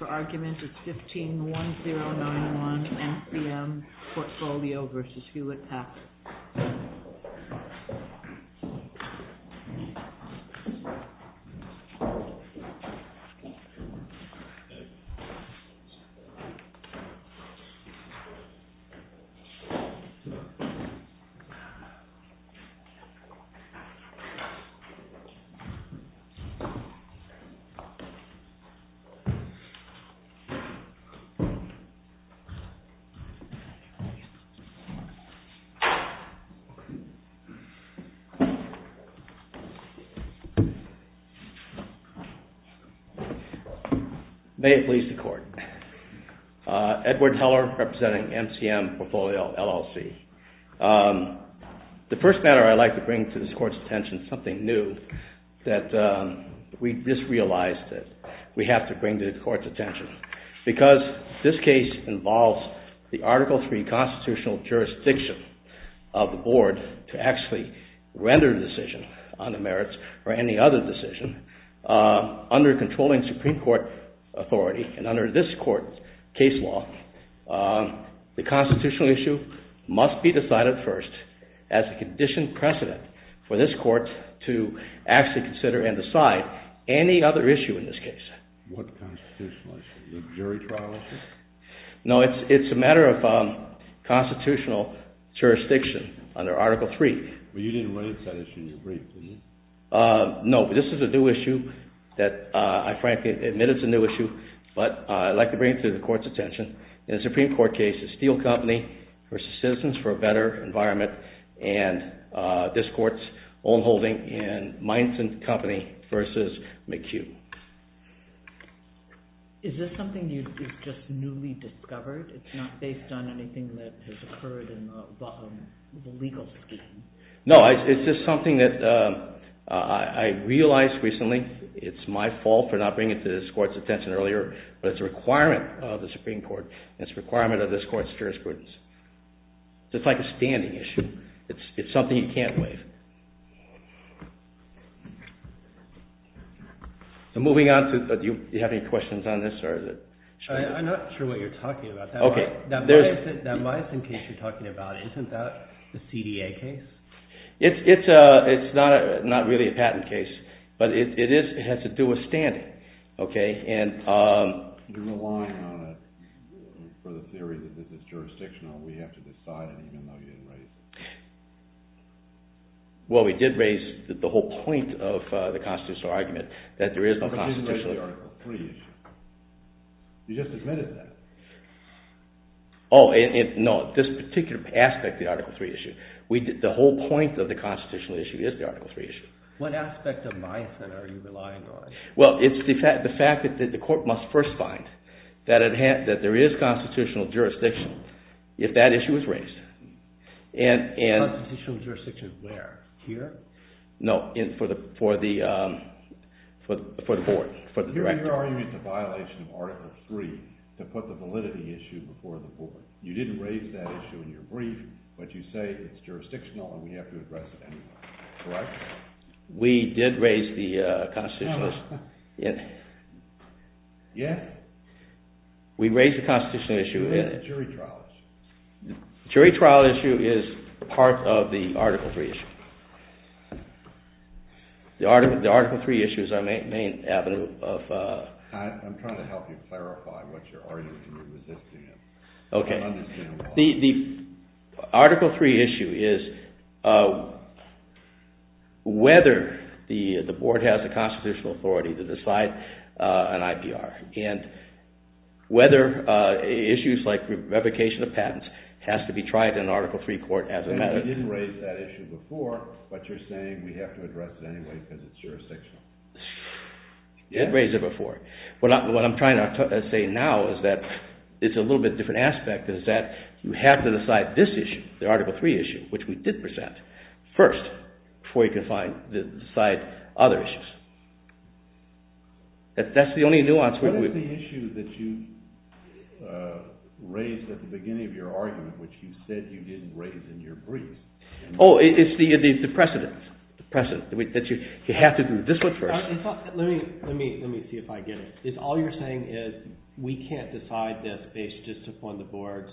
151091 MCM Portfolio v. Hewlett-Packard v. Hewlett-Packard May it please the Court. Edward Teller representing MCM Portfolio LLC. The first matter I'd like to bring to this Court's attention is something new that we just realized that we have to bring to the Court's attention. Because this case involves the Article III constitutional jurisdiction of the Board to actually render a decision on the merits or any other decision, under controlling Supreme Court authority and under this Court's case law, the constitutional issue must be decided first as a conditioned precedent for this Court to actually consider and decide any other issue in this case. What constitutional issue? The jury trial issue? No, it's a matter of constitutional jurisdiction under Article III. But you didn't raise that issue in your brief, did you? No, but this is a new issue that I frankly admit it's a new issue, but I'd like to bring it to the Court's attention. Is this something that is just newly discovered? It's not based on anything that has occurred in the legal scheme? No, it's just something that I realized recently. It's my fault for not bringing it to this Court's attention earlier, but it's a requirement of the Supreme Court and it's a requirement of this Court's jurisprudence. It's like a standing issue. It's something you can't waive. So moving on, do you have any questions on this? I'm not sure what you're talking about. That Myosin case you're talking about, isn't that the CDA case? It's not really a patent case, but it has to do with standing. You're relying on it for the theory that it's jurisdictional. We have to decide it even though you didn't raise it. Well, we did raise the whole point of the constitutional argument that there is no constitutional... But you didn't raise the Article III issue. You just admitted that. Oh, no, this particular aspect of the Article III issue. The whole point of the constitutional issue is the Article III issue. What aspect of Myosin are you relying on? Well, it's the fact that the Court must first find that there is constitutional jurisdiction if that issue is raised. Constitutional jurisdiction where? Here? No, for the board, for the director. You're arguing it's a violation of Article III to put the validity issue before the board. You didn't raise that issue in your brief, but you say it's jurisdictional and we have to address it anyway. Correct? We did raise the constitutional issue. Yes? We raised the constitutional issue. The jury trial issue. The jury trial issue is part of the Article III issue. The Article III issue is our main avenue of... I'm trying to help you clarify what you're arguing and you're resisting it. Okay. The Article III issue is whether the board has the constitutional authority to decide an IPR and whether issues like revocation of patents has to be tried in Article III court as a matter... You didn't raise that issue before, but you're saying we have to address it anyway because it's jurisdictional. You did raise it before, but what I'm trying to say now is that it's a little bit different aspect is that you have to decide this issue, the Article III issue, which we did present first before you can decide other issues. That's the only nuance... What is the issue that you raised at the beginning of your argument which you said you didn't raise in your brief? Oh, it's the precedent. You have to do this one first. Let me see if I get it. All you're saying is we can't decide this based just upon the board's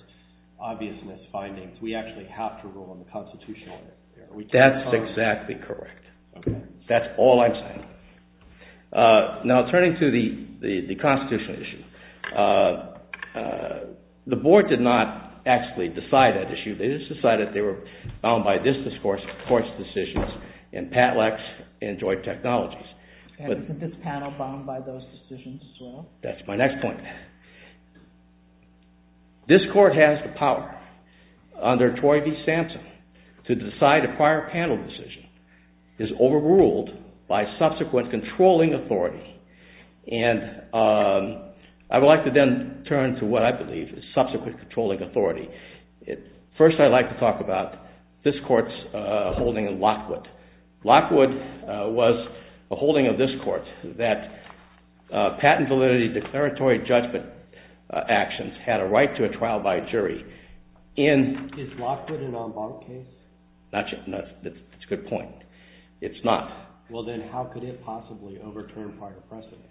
obviousness findings. We actually have to rule on the constitutional issue. That's exactly correct. That's all I'm saying. Now, turning to the constitutional issue, the board did not actually decide that issue. They just decided they were bound by this court's decisions and Pat Lex enjoyed technologies. This panel bound by those decisions as well? That's my next point. This court has the power under Troy v. Sampson to decide a prior panel decision is overruled by subsequent controlling authority. I would like to then turn to what I believe is subsequent controlling authority. First, I'd like to talk about this court's holding in Lockwood. Lockwood was a holding of this court that patent validity declaratory judgment actions had a right to a trial by jury. Is Lockwood an en banc case? That's a good point. It's not. Then how could it possibly overturn prior precedent?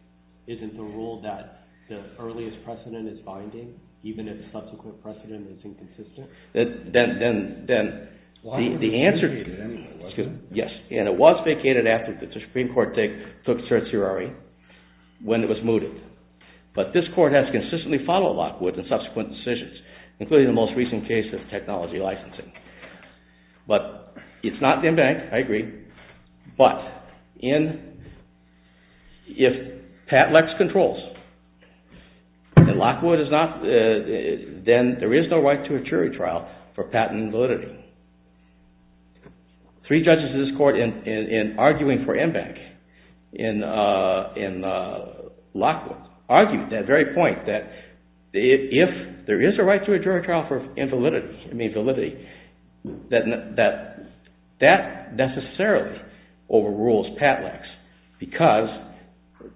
Isn't the rule that the earliest precedent is binding even if subsequent precedent is inconsistent? Then the answer is yes. It was vacated after the Supreme Court took certiorari when it was mooted. But this court has consistently followed Lockwood in subsequent decisions, including the most recent case of technology licensing. It's not en banc, I agree, but if Pat Lex controls and Lockwood is not, then there is no right to a jury trial for patent validity. Three judges in this court in arguing for en banc in Lockwood argued that very point that if there is a right to a jury trial for validity, that that necessarily overrules Pat Lex. Because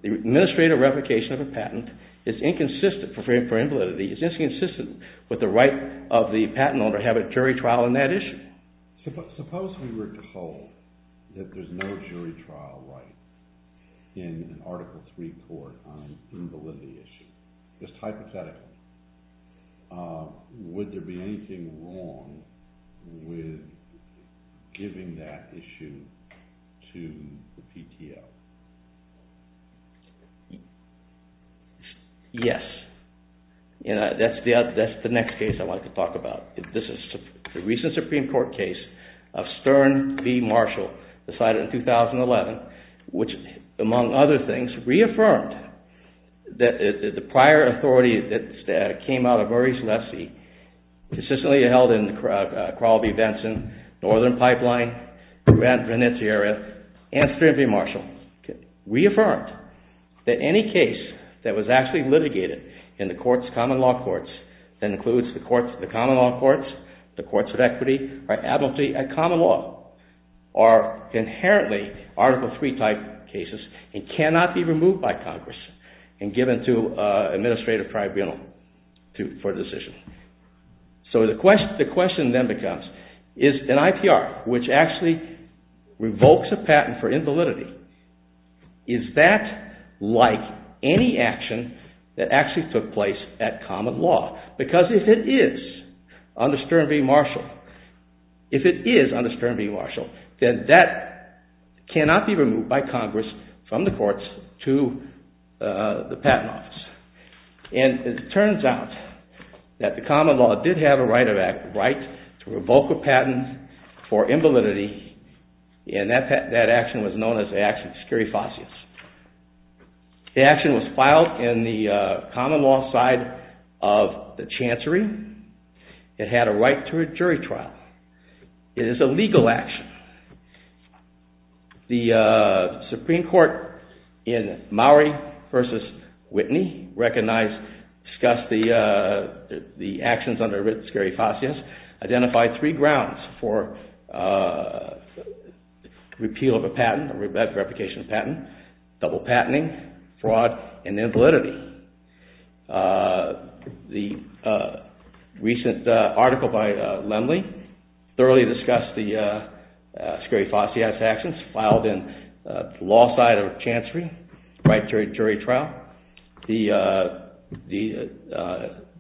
the administrative replication of a patent is inconsistent for validity, is inconsistent with the right of the patent owner to have a jury trial on that issue. Suppose we were told that there is no jury trial right in an Article III court on a validity issue. Just hypothetical. Would there be anything wrong with giving that issue to the PTO? Yes. That's the next case I want to talk about. This is the recent Supreme Court case of Stern v. Marshall, decided in 2011, which, among other things, reaffirmed that the prior authority that came out of Murray's lessee consistently held in Crawl v. Benson, Northern Pipeline, Grand Venetia area, and Stern v. Marshall. Reaffirmed that any case that was actually litigated in the common law courts, that includes the common law courts, the courts of equity, are inherently Article III type cases and cannot be removed by Congress and given to an administrative tribunal for decision. So the question then becomes, is an IPR which actually revokes a patent for invalidity, is that like any action that actually took place at common law? Because if it is under Stern v. Marshall, then that cannot be removed by Congress from the courts to the patent office. And it turns out that the common law did have a right to revoke a patent for invalidity, and that action was known as the action of scurifacius. The action was filed in the common law side of the chancery. It had a right to a jury trial. It is a legal action. The Supreme Court in Maury v. Whitney recognized, discussed the actions under scurifacius, identified three grounds for repeal of a patent, replication of a patent, double patenting, fraud, and invalidity. The recent article by Lemley thoroughly discussed the scurifacius actions filed in the law side of chancery, right to a jury trial. The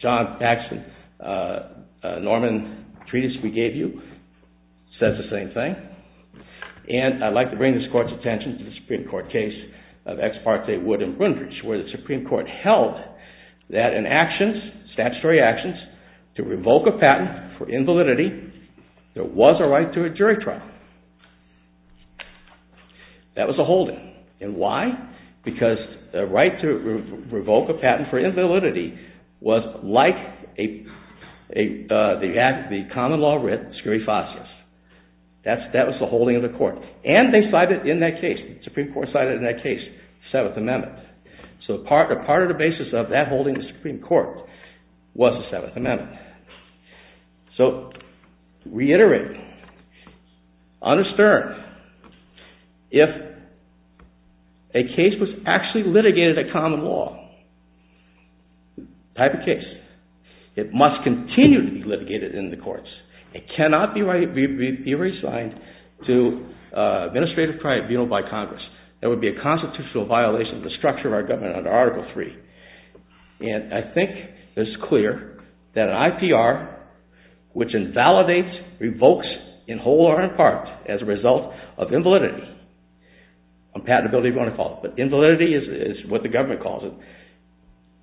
John Paxton-Norman treatise we gave you says the same thing. And I'd like to bring this court's attention to the Supreme Court case of Ex parte Wood v. Brindge, where the Supreme Court held that in actions, statutory actions, to revoke a patent for invalidity, there was a right to a jury trial. That was a holding. And why? Because the right to revoke a patent for invalidity was like the common law writ, scurifacius. That was the holding of the court. And they cited in that case, the Supreme Court cited in that case, the Seventh Amendment. So part of the basis of that holding of the Supreme Court was the Seventh Amendment. So, reiterating, unassertive, if a case was actually litigated in common law type of case, it must continue to be litigated in the courts. It cannot be reassigned to administrative trial and funeral by Congress. That would be a constitutional violation of the structure of our government under Article 3. And I think it's clear that an IPR, which invalidates, revokes, in whole or in part, as a result of invalidity, patentability if you want to call it, but invalidity is what the government calls it,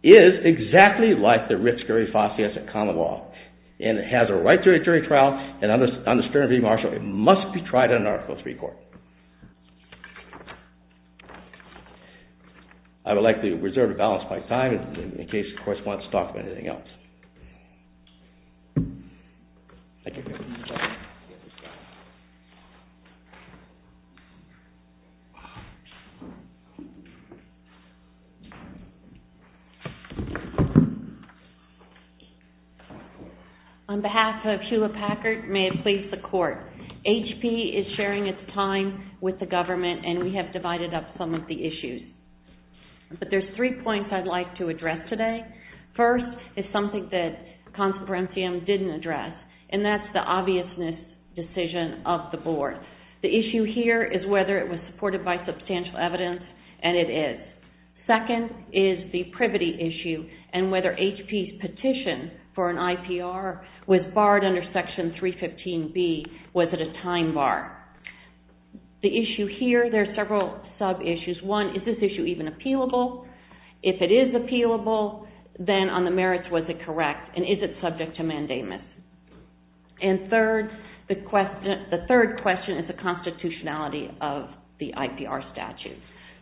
is exactly like the writ scurifacius in common law. And it has a right to a jury trial. And under scurifacius, it must be tried in an Article 3 court. I would like to reserve a balance of my time in case the correspondents talk of anything else. On behalf of Sheila Packard, may it please the Court, HP is sharing its time with the government and we have divided up some of the issues. But there's three points I'd like to address today. First is something that Consul Parencium didn't address, and that's the obviousness decision of the Board. The issue here is whether it was supported by substantial evidence, and it is. Second is the privity issue and whether HP's petition for an IPR was barred under Section 315B. Was it a time bar? The issue here, there are several sub-issues. One, is this issue even appealable? If it is appealable, then on the merits, was it correct? And is it subject to mandamus? And third, the question, the third question is the constitutionality of the IPR statute.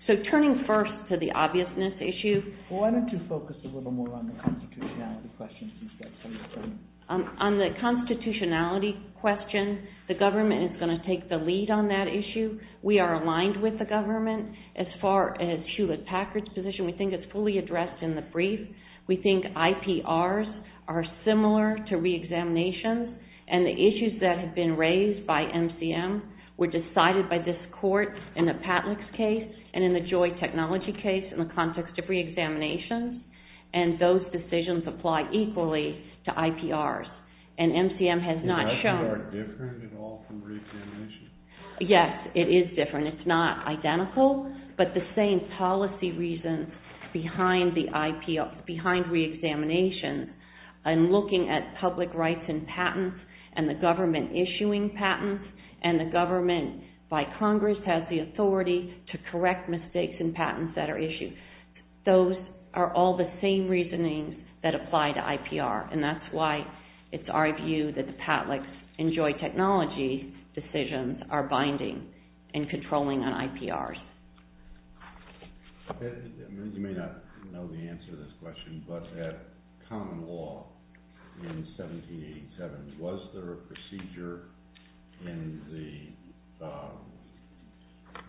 So turning first to the obviousness issue. Why don't you focus a little more on the constitutionality question? On the constitutionality question, the government is going to take the lead on that issue. We are aligned with the government. As far as Hewlett-Packard's position, we think it's fully addressed in the brief. We think IPRs are similar to re-examinations. And the issues that have been raised by MCM were decided by this Court in the Patlick's case and in the Joy Technology case in the context of re-examinations. And those decisions apply equally to IPRs. And MCM has not shown... Is IPR different at all from re-examinations? Yes, it is different. It's not identical, but the same policy reasons behind the IPR, behind re-examinations, and looking at public rights and patents, and the government issuing patents, and the government by Congress has the authority to correct mistakes in patents that are issued. Those are all the same reasonings that apply to IPR. And that's why it's our view that the Patlick's and Joy Technology decisions are binding and controlling on IPRs. You may not know the answer to this question, but at common law in 1787, was there a procedure in the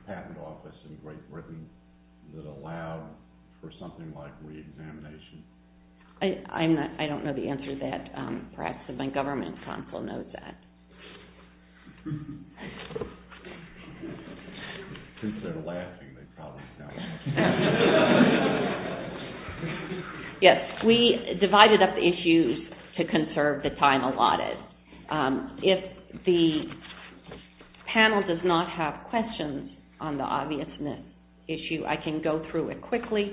patent office in Great Britain that allowed for something like re-examination? I don't know the answer to that. Perhaps my government consul knows that. Since they're laughing, they probably know. Yes, we divided up the issues to conserve the time allotted. If the panel does not have questions on the obviousness issue, I can go through it quickly,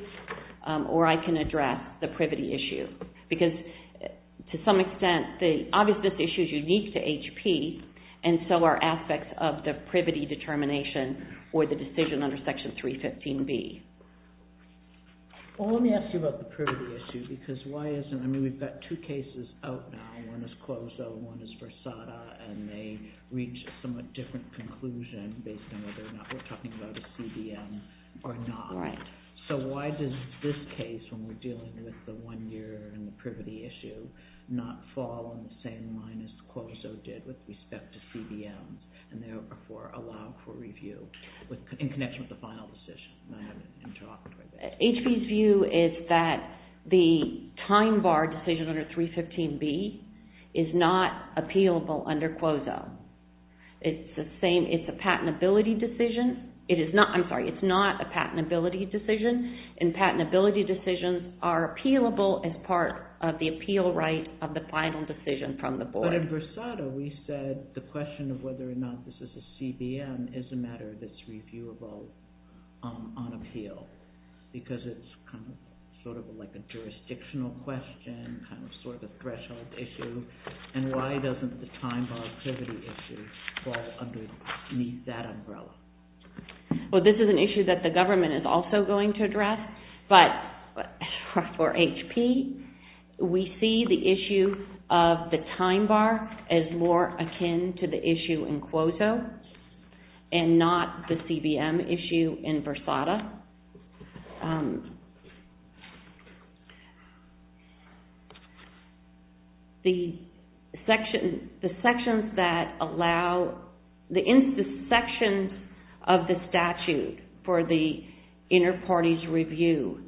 or I can address the privity issue. Because to some extent, the obviousness issue is unique to HP, and so are aspects of the privity determination, or the decision under Section 315B. Well, let me ask you about the privity issue, because why isn't, I mean, we've got two cases out now. One is Clozo, one is Versada, and they reach a somewhat different conclusion based on whether or not we're talking about a CDM or not. So why does this case, when we're dealing with the one-year and the privity issue, not fall on the same line as Clozo did with respect to CDMs, and therefore allow for review in connection with the final decision? HP's view is that the time bar decision under 315B is not appealable under Clozo. It's a patentability decision. I'm sorry, it's not a patentability decision, and patentability decisions are appealable as part of the appeal right of the final decision from the board. But in Versada, we said the question of whether or not this is a CDM is a matter that's reviewable on appeal, because it's sort of like a jurisdictional question, kind of sort of a threshold issue, and why doesn't the time bar activity issue fall underneath that umbrella? Well, this is an issue that the government is also going to address, but for HP, we see the issue of the time bar as more akin to the issue in Clozo, and not the CDM issue in Versada. The sections of the statute for the inter-parties review,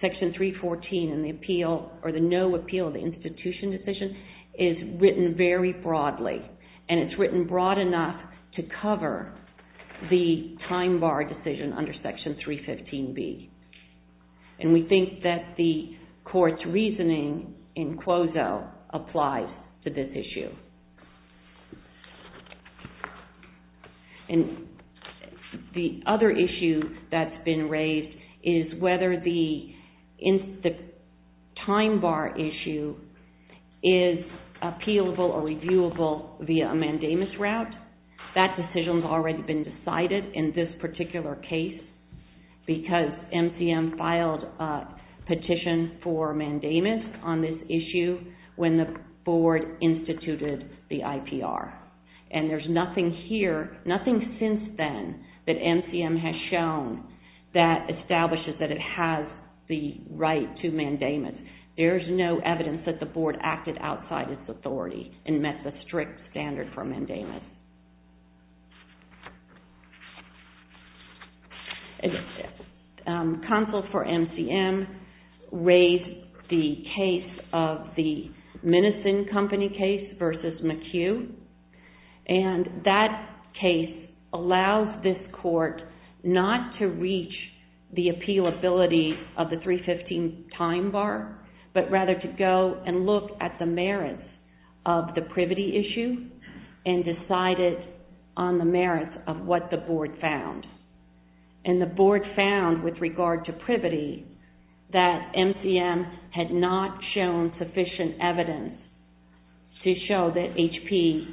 section 314 in the appeal, or the no appeal of the institution decision, is written very broadly, and it's written broad enough to cover the time bar decision under section 315B. And we think that the court's reasoning in Clozo applies to this issue. And the other issue that's been raised is whether the time bar issue is appealable or reviewable via a mandamus route. That decision's already been decided in this particular case, because MCM filed a petition for mandamus on this issue when the board instituted the IPR. And there's nothing here, nothing since then, that MCM has shown that establishes that it has the right to mandamus. There's no evidence that the board acted outside its authority and met the strict standard for mandamus. Counsel for MCM raised the case of the Menison Company case versus McHugh, and that case allows this court not to reach the appealability of the 315 time bar, but rather to go and look at the merits of the privity issue and decided on the merits of what the board found. And the board found, with regard to privity, that MCM had not shown sufficient evidence to show that HP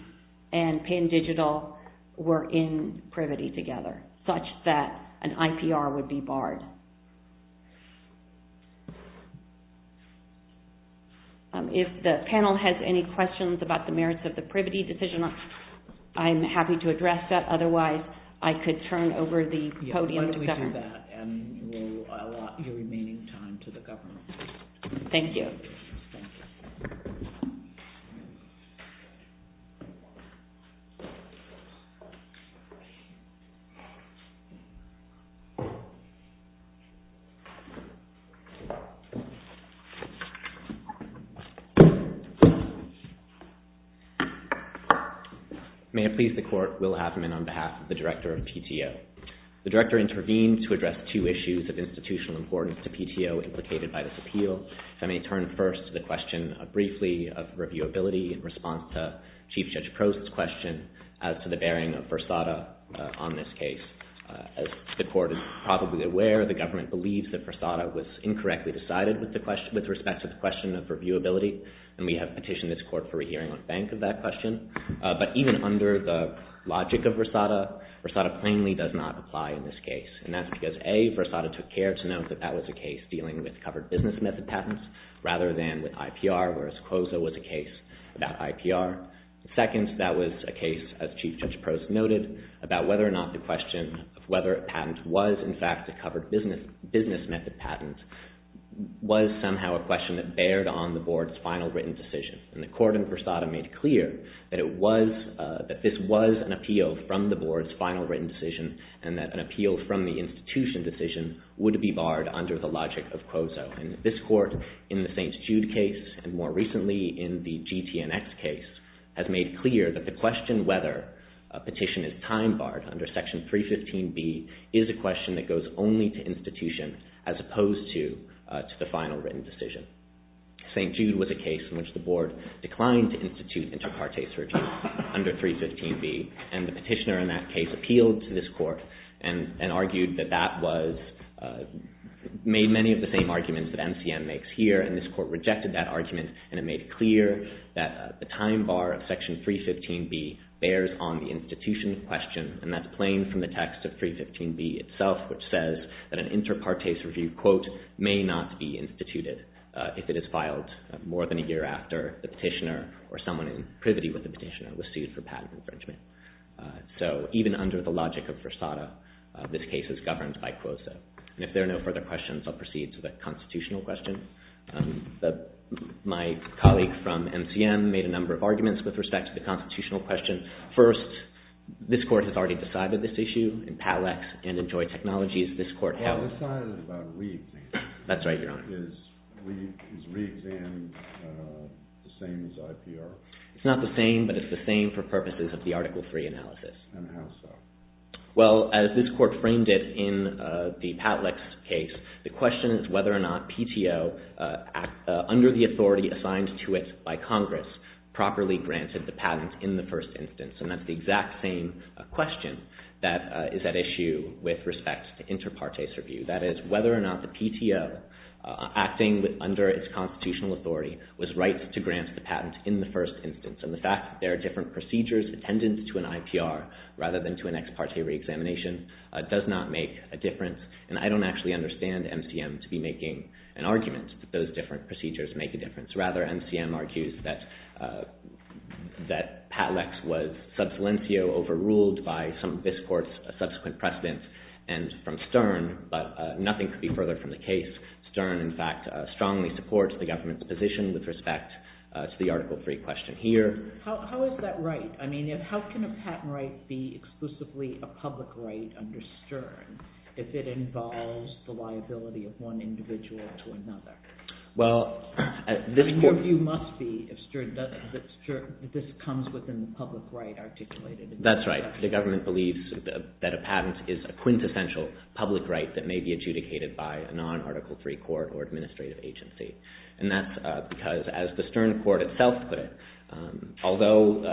and Penn Digital were in privity together, such that an IPR would be barred. If the panel has any questions about the merits of the privity decision, I'm happy to address that. Otherwise, I could turn over the podium to Governor. Yeah, why don't we do that, and we'll allot your remaining time to the Governor. Thank you. May it please the Court, Will Haffman, on behalf of the Director of PTO. The Director intervened to address two issues of institutional importance to PTO implicated by this appeal. I may turn first to the question, briefly, of reviewability in response to Chief Judge Prost's question as to the bearing of Fursada on this case. As the Court is probably aware, the government believes that Fursada was incorrectly decided with regard to this case. With respect to the question of reviewability, and we have petitioned this Court for a hearing on bank of that question. But even under the logic of Fursada, Fursada plainly does not apply in this case. And that's because, A, Fursada took care to note that that was a case dealing with covered business method patents, rather than with IPR, whereas COSA was a case about IPR. Second, that was a case, as Chief Judge Prost noted, about whether or not the question of whether a patent was, in fact, a covered business method patent, was somehow a question that bared on the Board's final written decision. And the Court in Fursada made clear that this was an appeal from the Board's final written decision, and that an appeal from the institution decision would be barred under the logic of COSA. And this Court, in the St. Jude case, and more recently in the GTNX case, has made clear that the question whether a petition is time-barred under Section 315B is a question that goes only to institution, as opposed to the final written decision. St. Jude was a case in which the Board declined to institute inter partes review under 315B, and the petitioner in that case appealed to this Court and argued that that made many of the same arguments that MCM makes here, and this Court rejected that argument, and it made clear that the time-bar of Section 315B bears on the institution question, and that's plain from the text of 315B itself, which says that an inter partes review, quote, may not be instituted. If it is filed more than a year after, the petitioner, or someone in privity with the petitioner, was sued for patent infringement. So even under the logic of Fursada, this case is governed by COSA. And if there are no further questions, I'll proceed to the constitutional question. My colleague from MCM made a number of arguments with respect to the constitutional question. First, this Court has already decided this issue in Pallex and in Joy Technologies. This side is about re-examination. That's right, Your Honor. Is re-examination the same as IPR? It's not the same, but it's the same for purposes of the Article III analysis. And how so? Well, as this Court framed it in the Pallex case, the question is whether or not PTO, under the authority assigned to it by Congress, properly granted the patent in the first instance. And that's the exact same question that is at issue with respect to inter partes review. That is whether or not the PTO, acting under its constitutional authority, was right to grant the patent in the first instance. And the fact that there are different procedures attendant to an IPR rather than to an ex parte re-examination does not make a difference. And I don't actually understand MCM to be making an argument that those different procedures make a difference. Rather, MCM argues that Pallex was sub salientio, overruled by some of this Court's subsequent precedents and from Stern. But nothing could be further from the case. Stern, in fact, strongly supports the government's position with respect to the Article III question here. How is that right? I mean, how can a patent right be exclusively a public right under Stern if it involves the liability of one individual to another? Well, at this point... And your view must be, if Stern doesn't, that this comes within the public right articulated in Stern. And that's because, as the Stern Court itself put it, although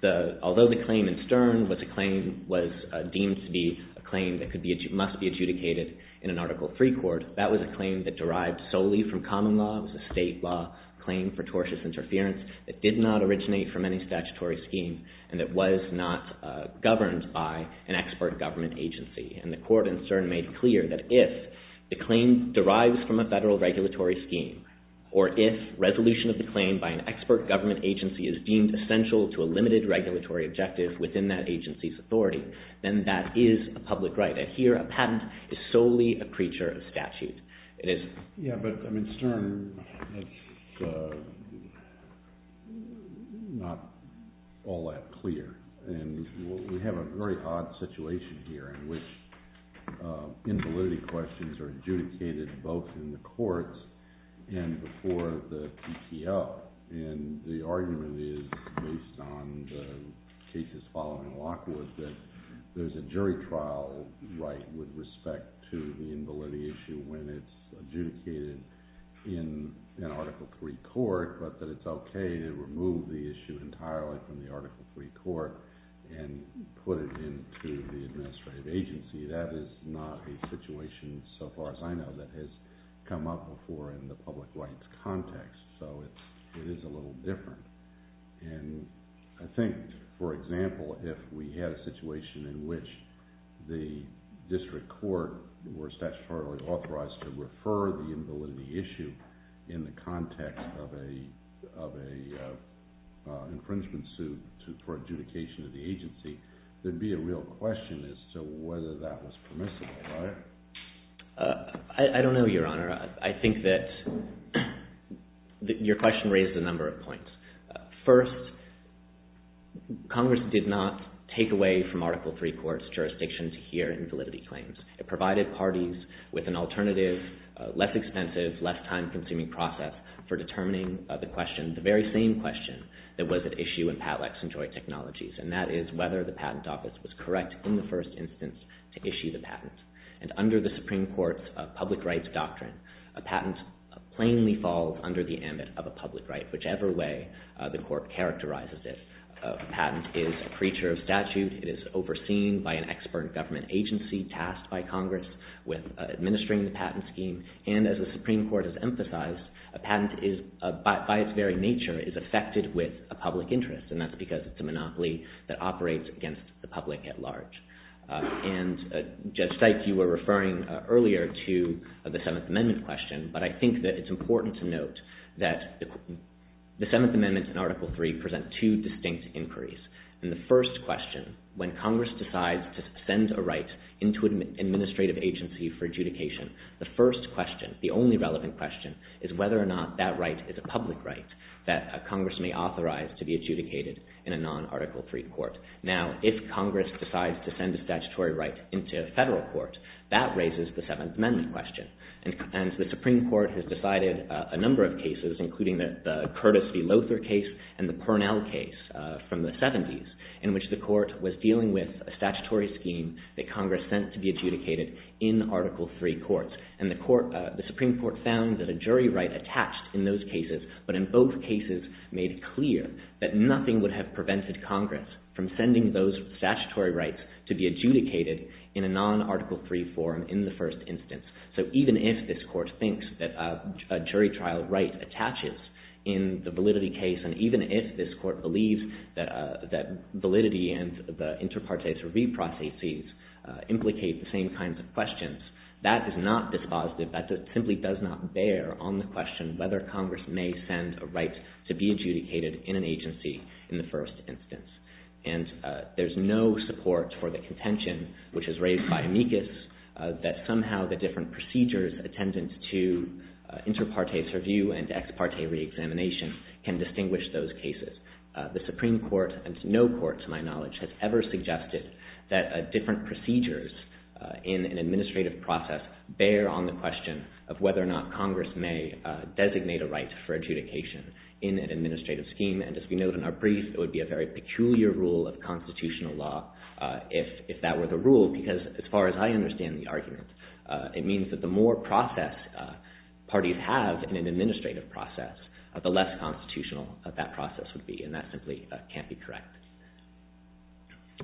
the claim in Stern was deemed to be a claim that must be adjudicated in an Article III court, that was a claim that derived solely from common law. It was a state law claim for tortious interference that did not originate from any statutory scheme and that was not governed by an expert government agency. And the Court in Stern made clear that if the claim derives from a federal regulatory scheme, or if resolution of the claim by an expert government agency is deemed essential to a limited regulatory objective within that agency's authority, then that is a public right. Here, a patent is solely a creature of statute. Yeah, but, I mean, Stern, it's not all that clear. And we have a very odd situation here in which invalidity questions are adjudicated both in the courts and before the PTO. And the argument is, based on the cases following Lockwood, that there's a jury trial right with respect to the invalidity issue when it's adjudicated in an Article III court, but that it's okay to remove the issue entirely from the Article III court and put it into the administrative agency. That is not a situation, so far as I know, that has come up before in the public rights context. So it is a little different. And I think, for example, if we had a situation in which the district court were statutorily authorized to refer the invalidity issue in the context of an infringement suit for adjudication of the agency, there'd be a real question as to whether that was permissible, right? I don't know, Your Honor. I think that your question raised a number of points. First, Congress did not take away from Article III courts' jurisdiction to hear invalidity claims. It provided parties with an alternative, less expensive, less time-consuming process for determining the question, the very same question that was at issue in Patlax and Joint Technologies, and that is whether the patent office was correct in the first instance to issue the patent. And under the Supreme Court's public rights doctrine, a patent plainly falls under the ambit of a public right, whichever way the court characterizes it. A patent is a creature of statute. It is overseen by an expert government agency tasked by Congress with administering the patent scheme. And as the Supreme Court has emphasized, a patent, by its very nature, is affected with a public interest, and that's because it's a monopoly that operates against the public at large. And, Judge Sykes, you were referring earlier to the Seventh Amendment question, but I think that it's important to note that the Seventh Amendment and Article III present two distinct inquiries. In the first question, when Congress decides to send a right into an administrative agency for adjudication, the first question, the only relevant question, is whether or not that right is a public right that Congress may authorize to be adjudicated in a non-Article III court. Now, if Congress decides to send a statutory right into a federal court, that raises the Seventh Amendment question. And the Supreme Court has decided a number of cases, including the Curtis v. Lothar case and the Purnell case from the 70s, in which the court was dealing with a statutory scheme that Congress sent to be adjudicated in Article III courts. And the Supreme Court found that a jury right attached in those cases, but in both cases made clear that nothing would have prevented Congress from sending those statutory rights to be adjudicated in a non-Article III forum in the first instance. So even if this court thinks that a jury trial right attaches in the validity case, and even if this court believes that validity and the inter partes reprocesses implicate the same kinds of questions, that is not dispositive, that simply does not bear on the question whether Congress may send a right to be adjudicated in an agency in the first instance. And there's no support for the contention, which is raised by amicus, that somehow the different procedures attendant to inter partes review and ex parte reexamination can distinguish those cases. The Supreme Court, and no court to my knowledge, has ever suggested that different procedures in an administrative process bear on the question of whether or not Congress may designate a right for adjudication in an administrative scheme. And as we note in our brief, it would be a very peculiar rule of constitutional law if that were the rule, because as far as I understand the argument, it means that the more process parties have in an administrative process, the less constitutional that process would be, and that simply can't be correct.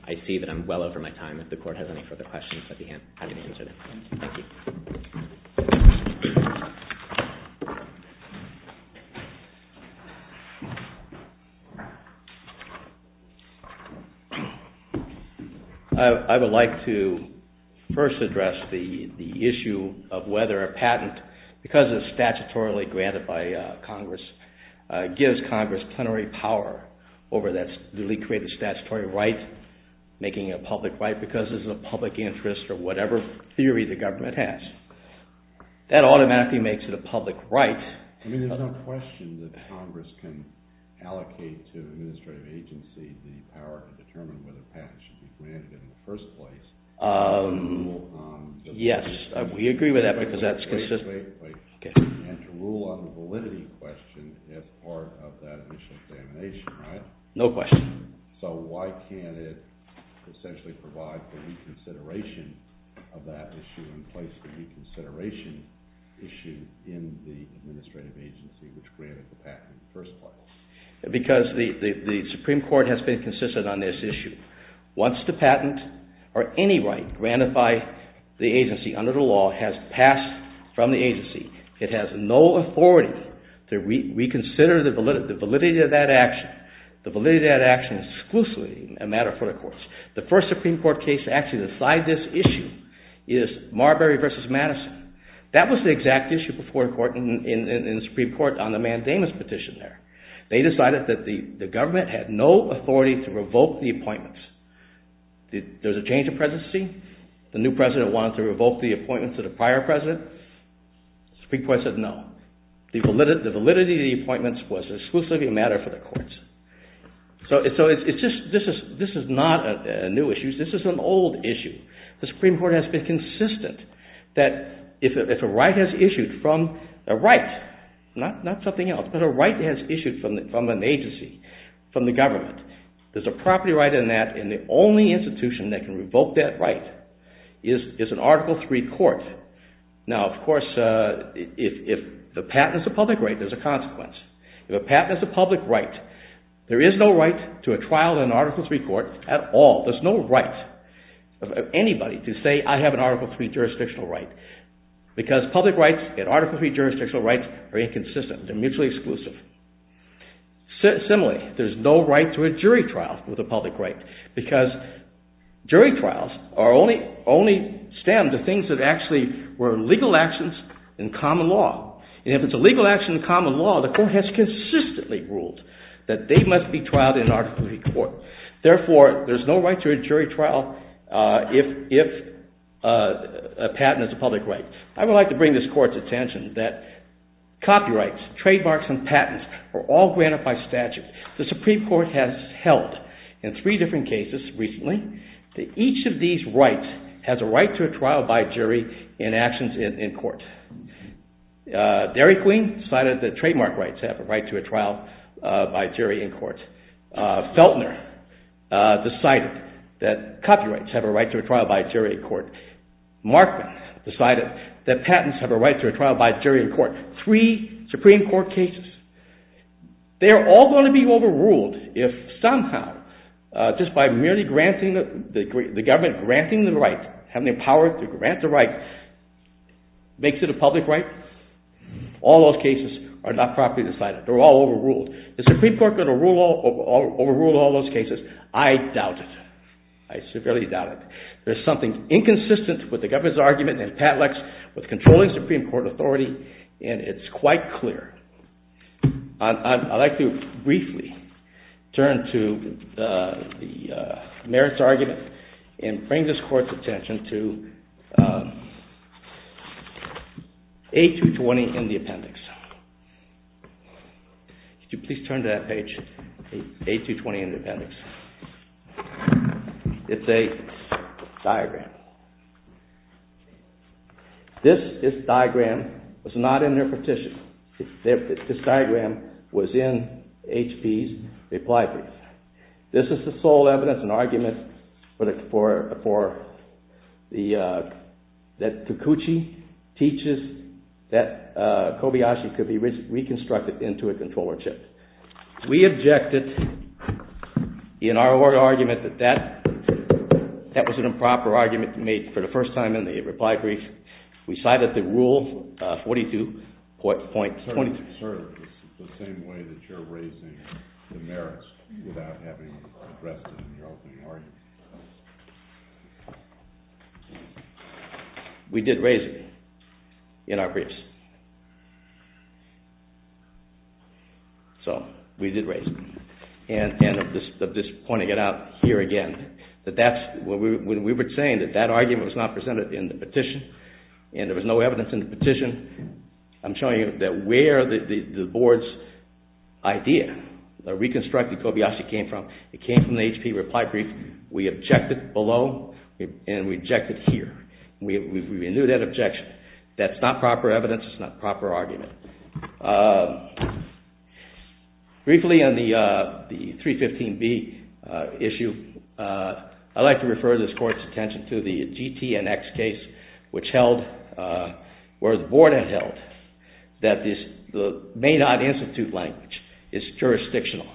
I see that I'm well over my time. If the court has any further questions, I'd be happy to answer them. I would like to first address the issue of whether a patent, because it's statutorily granted by Congress, gives Congress plenary power over that newly created statutory right, making it a public right because it's a public interest or whatever theory the government has. That automatically makes it a public right. I mean there's no question that Congress can allocate to an administrative agency the power to determine whether a patent should be granted in the first place. Yes, we agree with that because that's consistent. And to rule on the validity question as part of that initial examination, right? No question. So why can't it essentially provide for reconsideration of that issue and place the reconsideration issue in the administrative agency which granted the patent in the first place? Because the Supreme Court has been consistent on this issue. Once the patent or any right granted by the agency under the law has passed from the agency, it has no authority to reconsider the validity of that action. The validity of that action is exclusively a matter for the courts. The first Supreme Court case to actually decide this issue is Marbury v. Madison. That was the exact issue before the Supreme Court on the mandamus petition there. They decided that the government had no authority to revoke the appointments. There was a change of presidency. The new president wanted to revoke the appointments of the prior president. The Supreme Court said no. The validity of the appointments was exclusively a matter for the courts. So this is not a new issue. This is an old issue. The Supreme Court has been consistent that if a right has issued from a right, not something else, but a right has issued from an agency, from the government, there's a property right in that and the only institution that can revoke that right is an Article III court. Now, of course, if the patent is a public right, there's a consequence. If a patent is a public right, there is no right to a trial in an Article III court at all. There's no right of anybody to say I have an Article III jurisdictional right because public rights and Article III jurisdictional rights are inconsistent. They're mutually exclusive. Similarly, there's no right to a jury trial with a public right because jury trials only stem to things that actually were legal actions in common law. And if it's a legal action in common law, the court has consistently ruled that they must be trialed in an Article III court. Therefore, there's no right to a jury trial if a patent is a public right. I would like to bring this court's attention that copyrights, trademarks, and patents are all granted by statute. The Supreme Court has held in three different cases recently that each of these rights has a right to a trial by jury in actions in court. Derry Queen decided that trademark rights have a right to a trial by jury in court. Feltner decided that copyrights have a right to a trial by jury in court. Markman decided that patents have a right to a trial by jury in court. Three Supreme Court cases. They are all going to be overruled if somehow, just by merely the government granting the right, having the power to grant the right, makes it a public right. All those cases are not properly decided. They're all overruled. The Supreme Court could overrule all those cases. I doubt it. I severely doubt it. There's something inconsistent with the government's argument in Patlex with controlling Supreme Court authority, and it's quite clear. I'd like to briefly turn to the merits argument and bring this court's attention to A220 in the appendix. Could you please turn to that page, A220 in the appendix. It's a diagram. This diagram was not in their petition. This diagram was in HP's reply brief. This is the sole evidence and argument that Takuchi teaches that Kobayashi could be reconstructed into a controller chip. We objected in our argument that that was an improper argument made for the first time in the reply brief. We cited the rule 42.22. I'm concerned it's the same way that you're raising the merits without having addressed it in your opening argument. We did raise it in our briefs. So we did raise it, and at this point I get out here again that that's when we were saying that that argument was not presented in the petition and there was no evidence in the petition. I'm showing you where the board's idea, the reconstructed Kobayashi came from. It came from the HP reply brief. We objected below and we objected here. We renewed that objection. That's not proper evidence. It's not a proper argument. Briefly on the 315B issue, I'd like to refer this court's attention to the GTNX case where the board had held that the may not institute language is jurisdictional.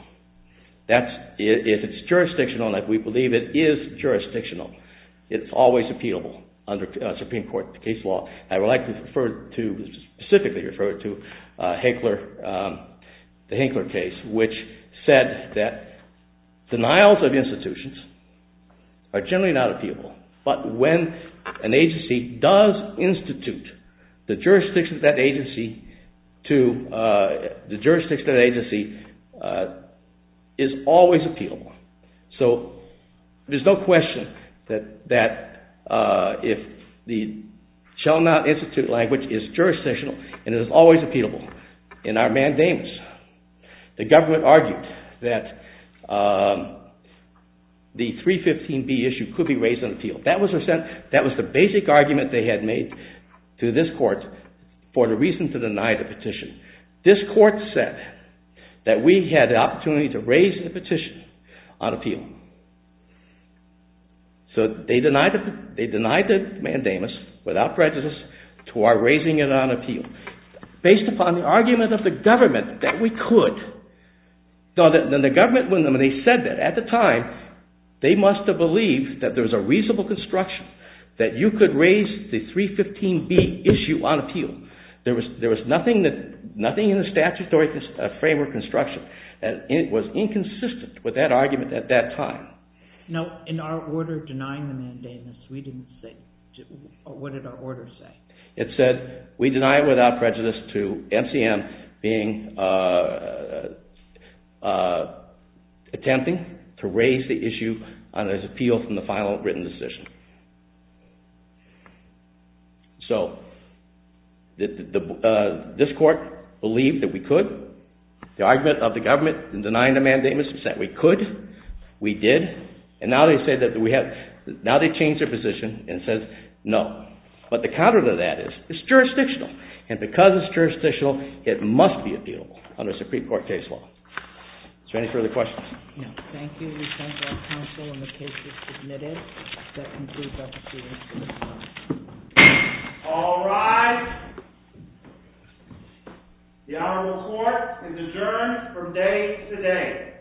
If it's jurisdictional, and we believe it is jurisdictional, it's always appealable under Supreme Court case law. I would like to specifically refer to the Hinkler case, which said that denials of institutions are generally not appealable, but when an agency does institute the jurisdiction of that agency to the jurisdiction of that agency is always appealable. So there's no question that if the shall not institute language is jurisdictional and is always appealable in our mandamus, the government argued that the 315B issue could be raised on appeal. That was the basic argument they had made to this court for the reason to deny the petition. This court said that we had the opportunity to raise the petition on appeal. So they denied the mandamus without prejudice to our raising it on appeal. Based upon the argument of the government that we could, they said that at the time they must have believed that there was a reasonable construction that you could raise the 315B issue on appeal. There was nothing in the statutory framework of construction that was inconsistent with that argument at that time. Now in our order denying the mandamus, what did our order say? It said we deny it without prejudice to MCM attempting to raise the issue on appeal from the final written decision. So this court believed that we could. The argument of the government in denying the mandamus is that we could, we did, and now they changed their position and said no. But the counter to that is it's jurisdictional. And because it's jurisdictional, it must be appealable under Supreme Court case law. Is there any further questions? Thank you. We thank our counsel and the case is submitted. That concludes our proceedings for this morning. All rise. The Honorable Court is adjourned from day to day. Thank you.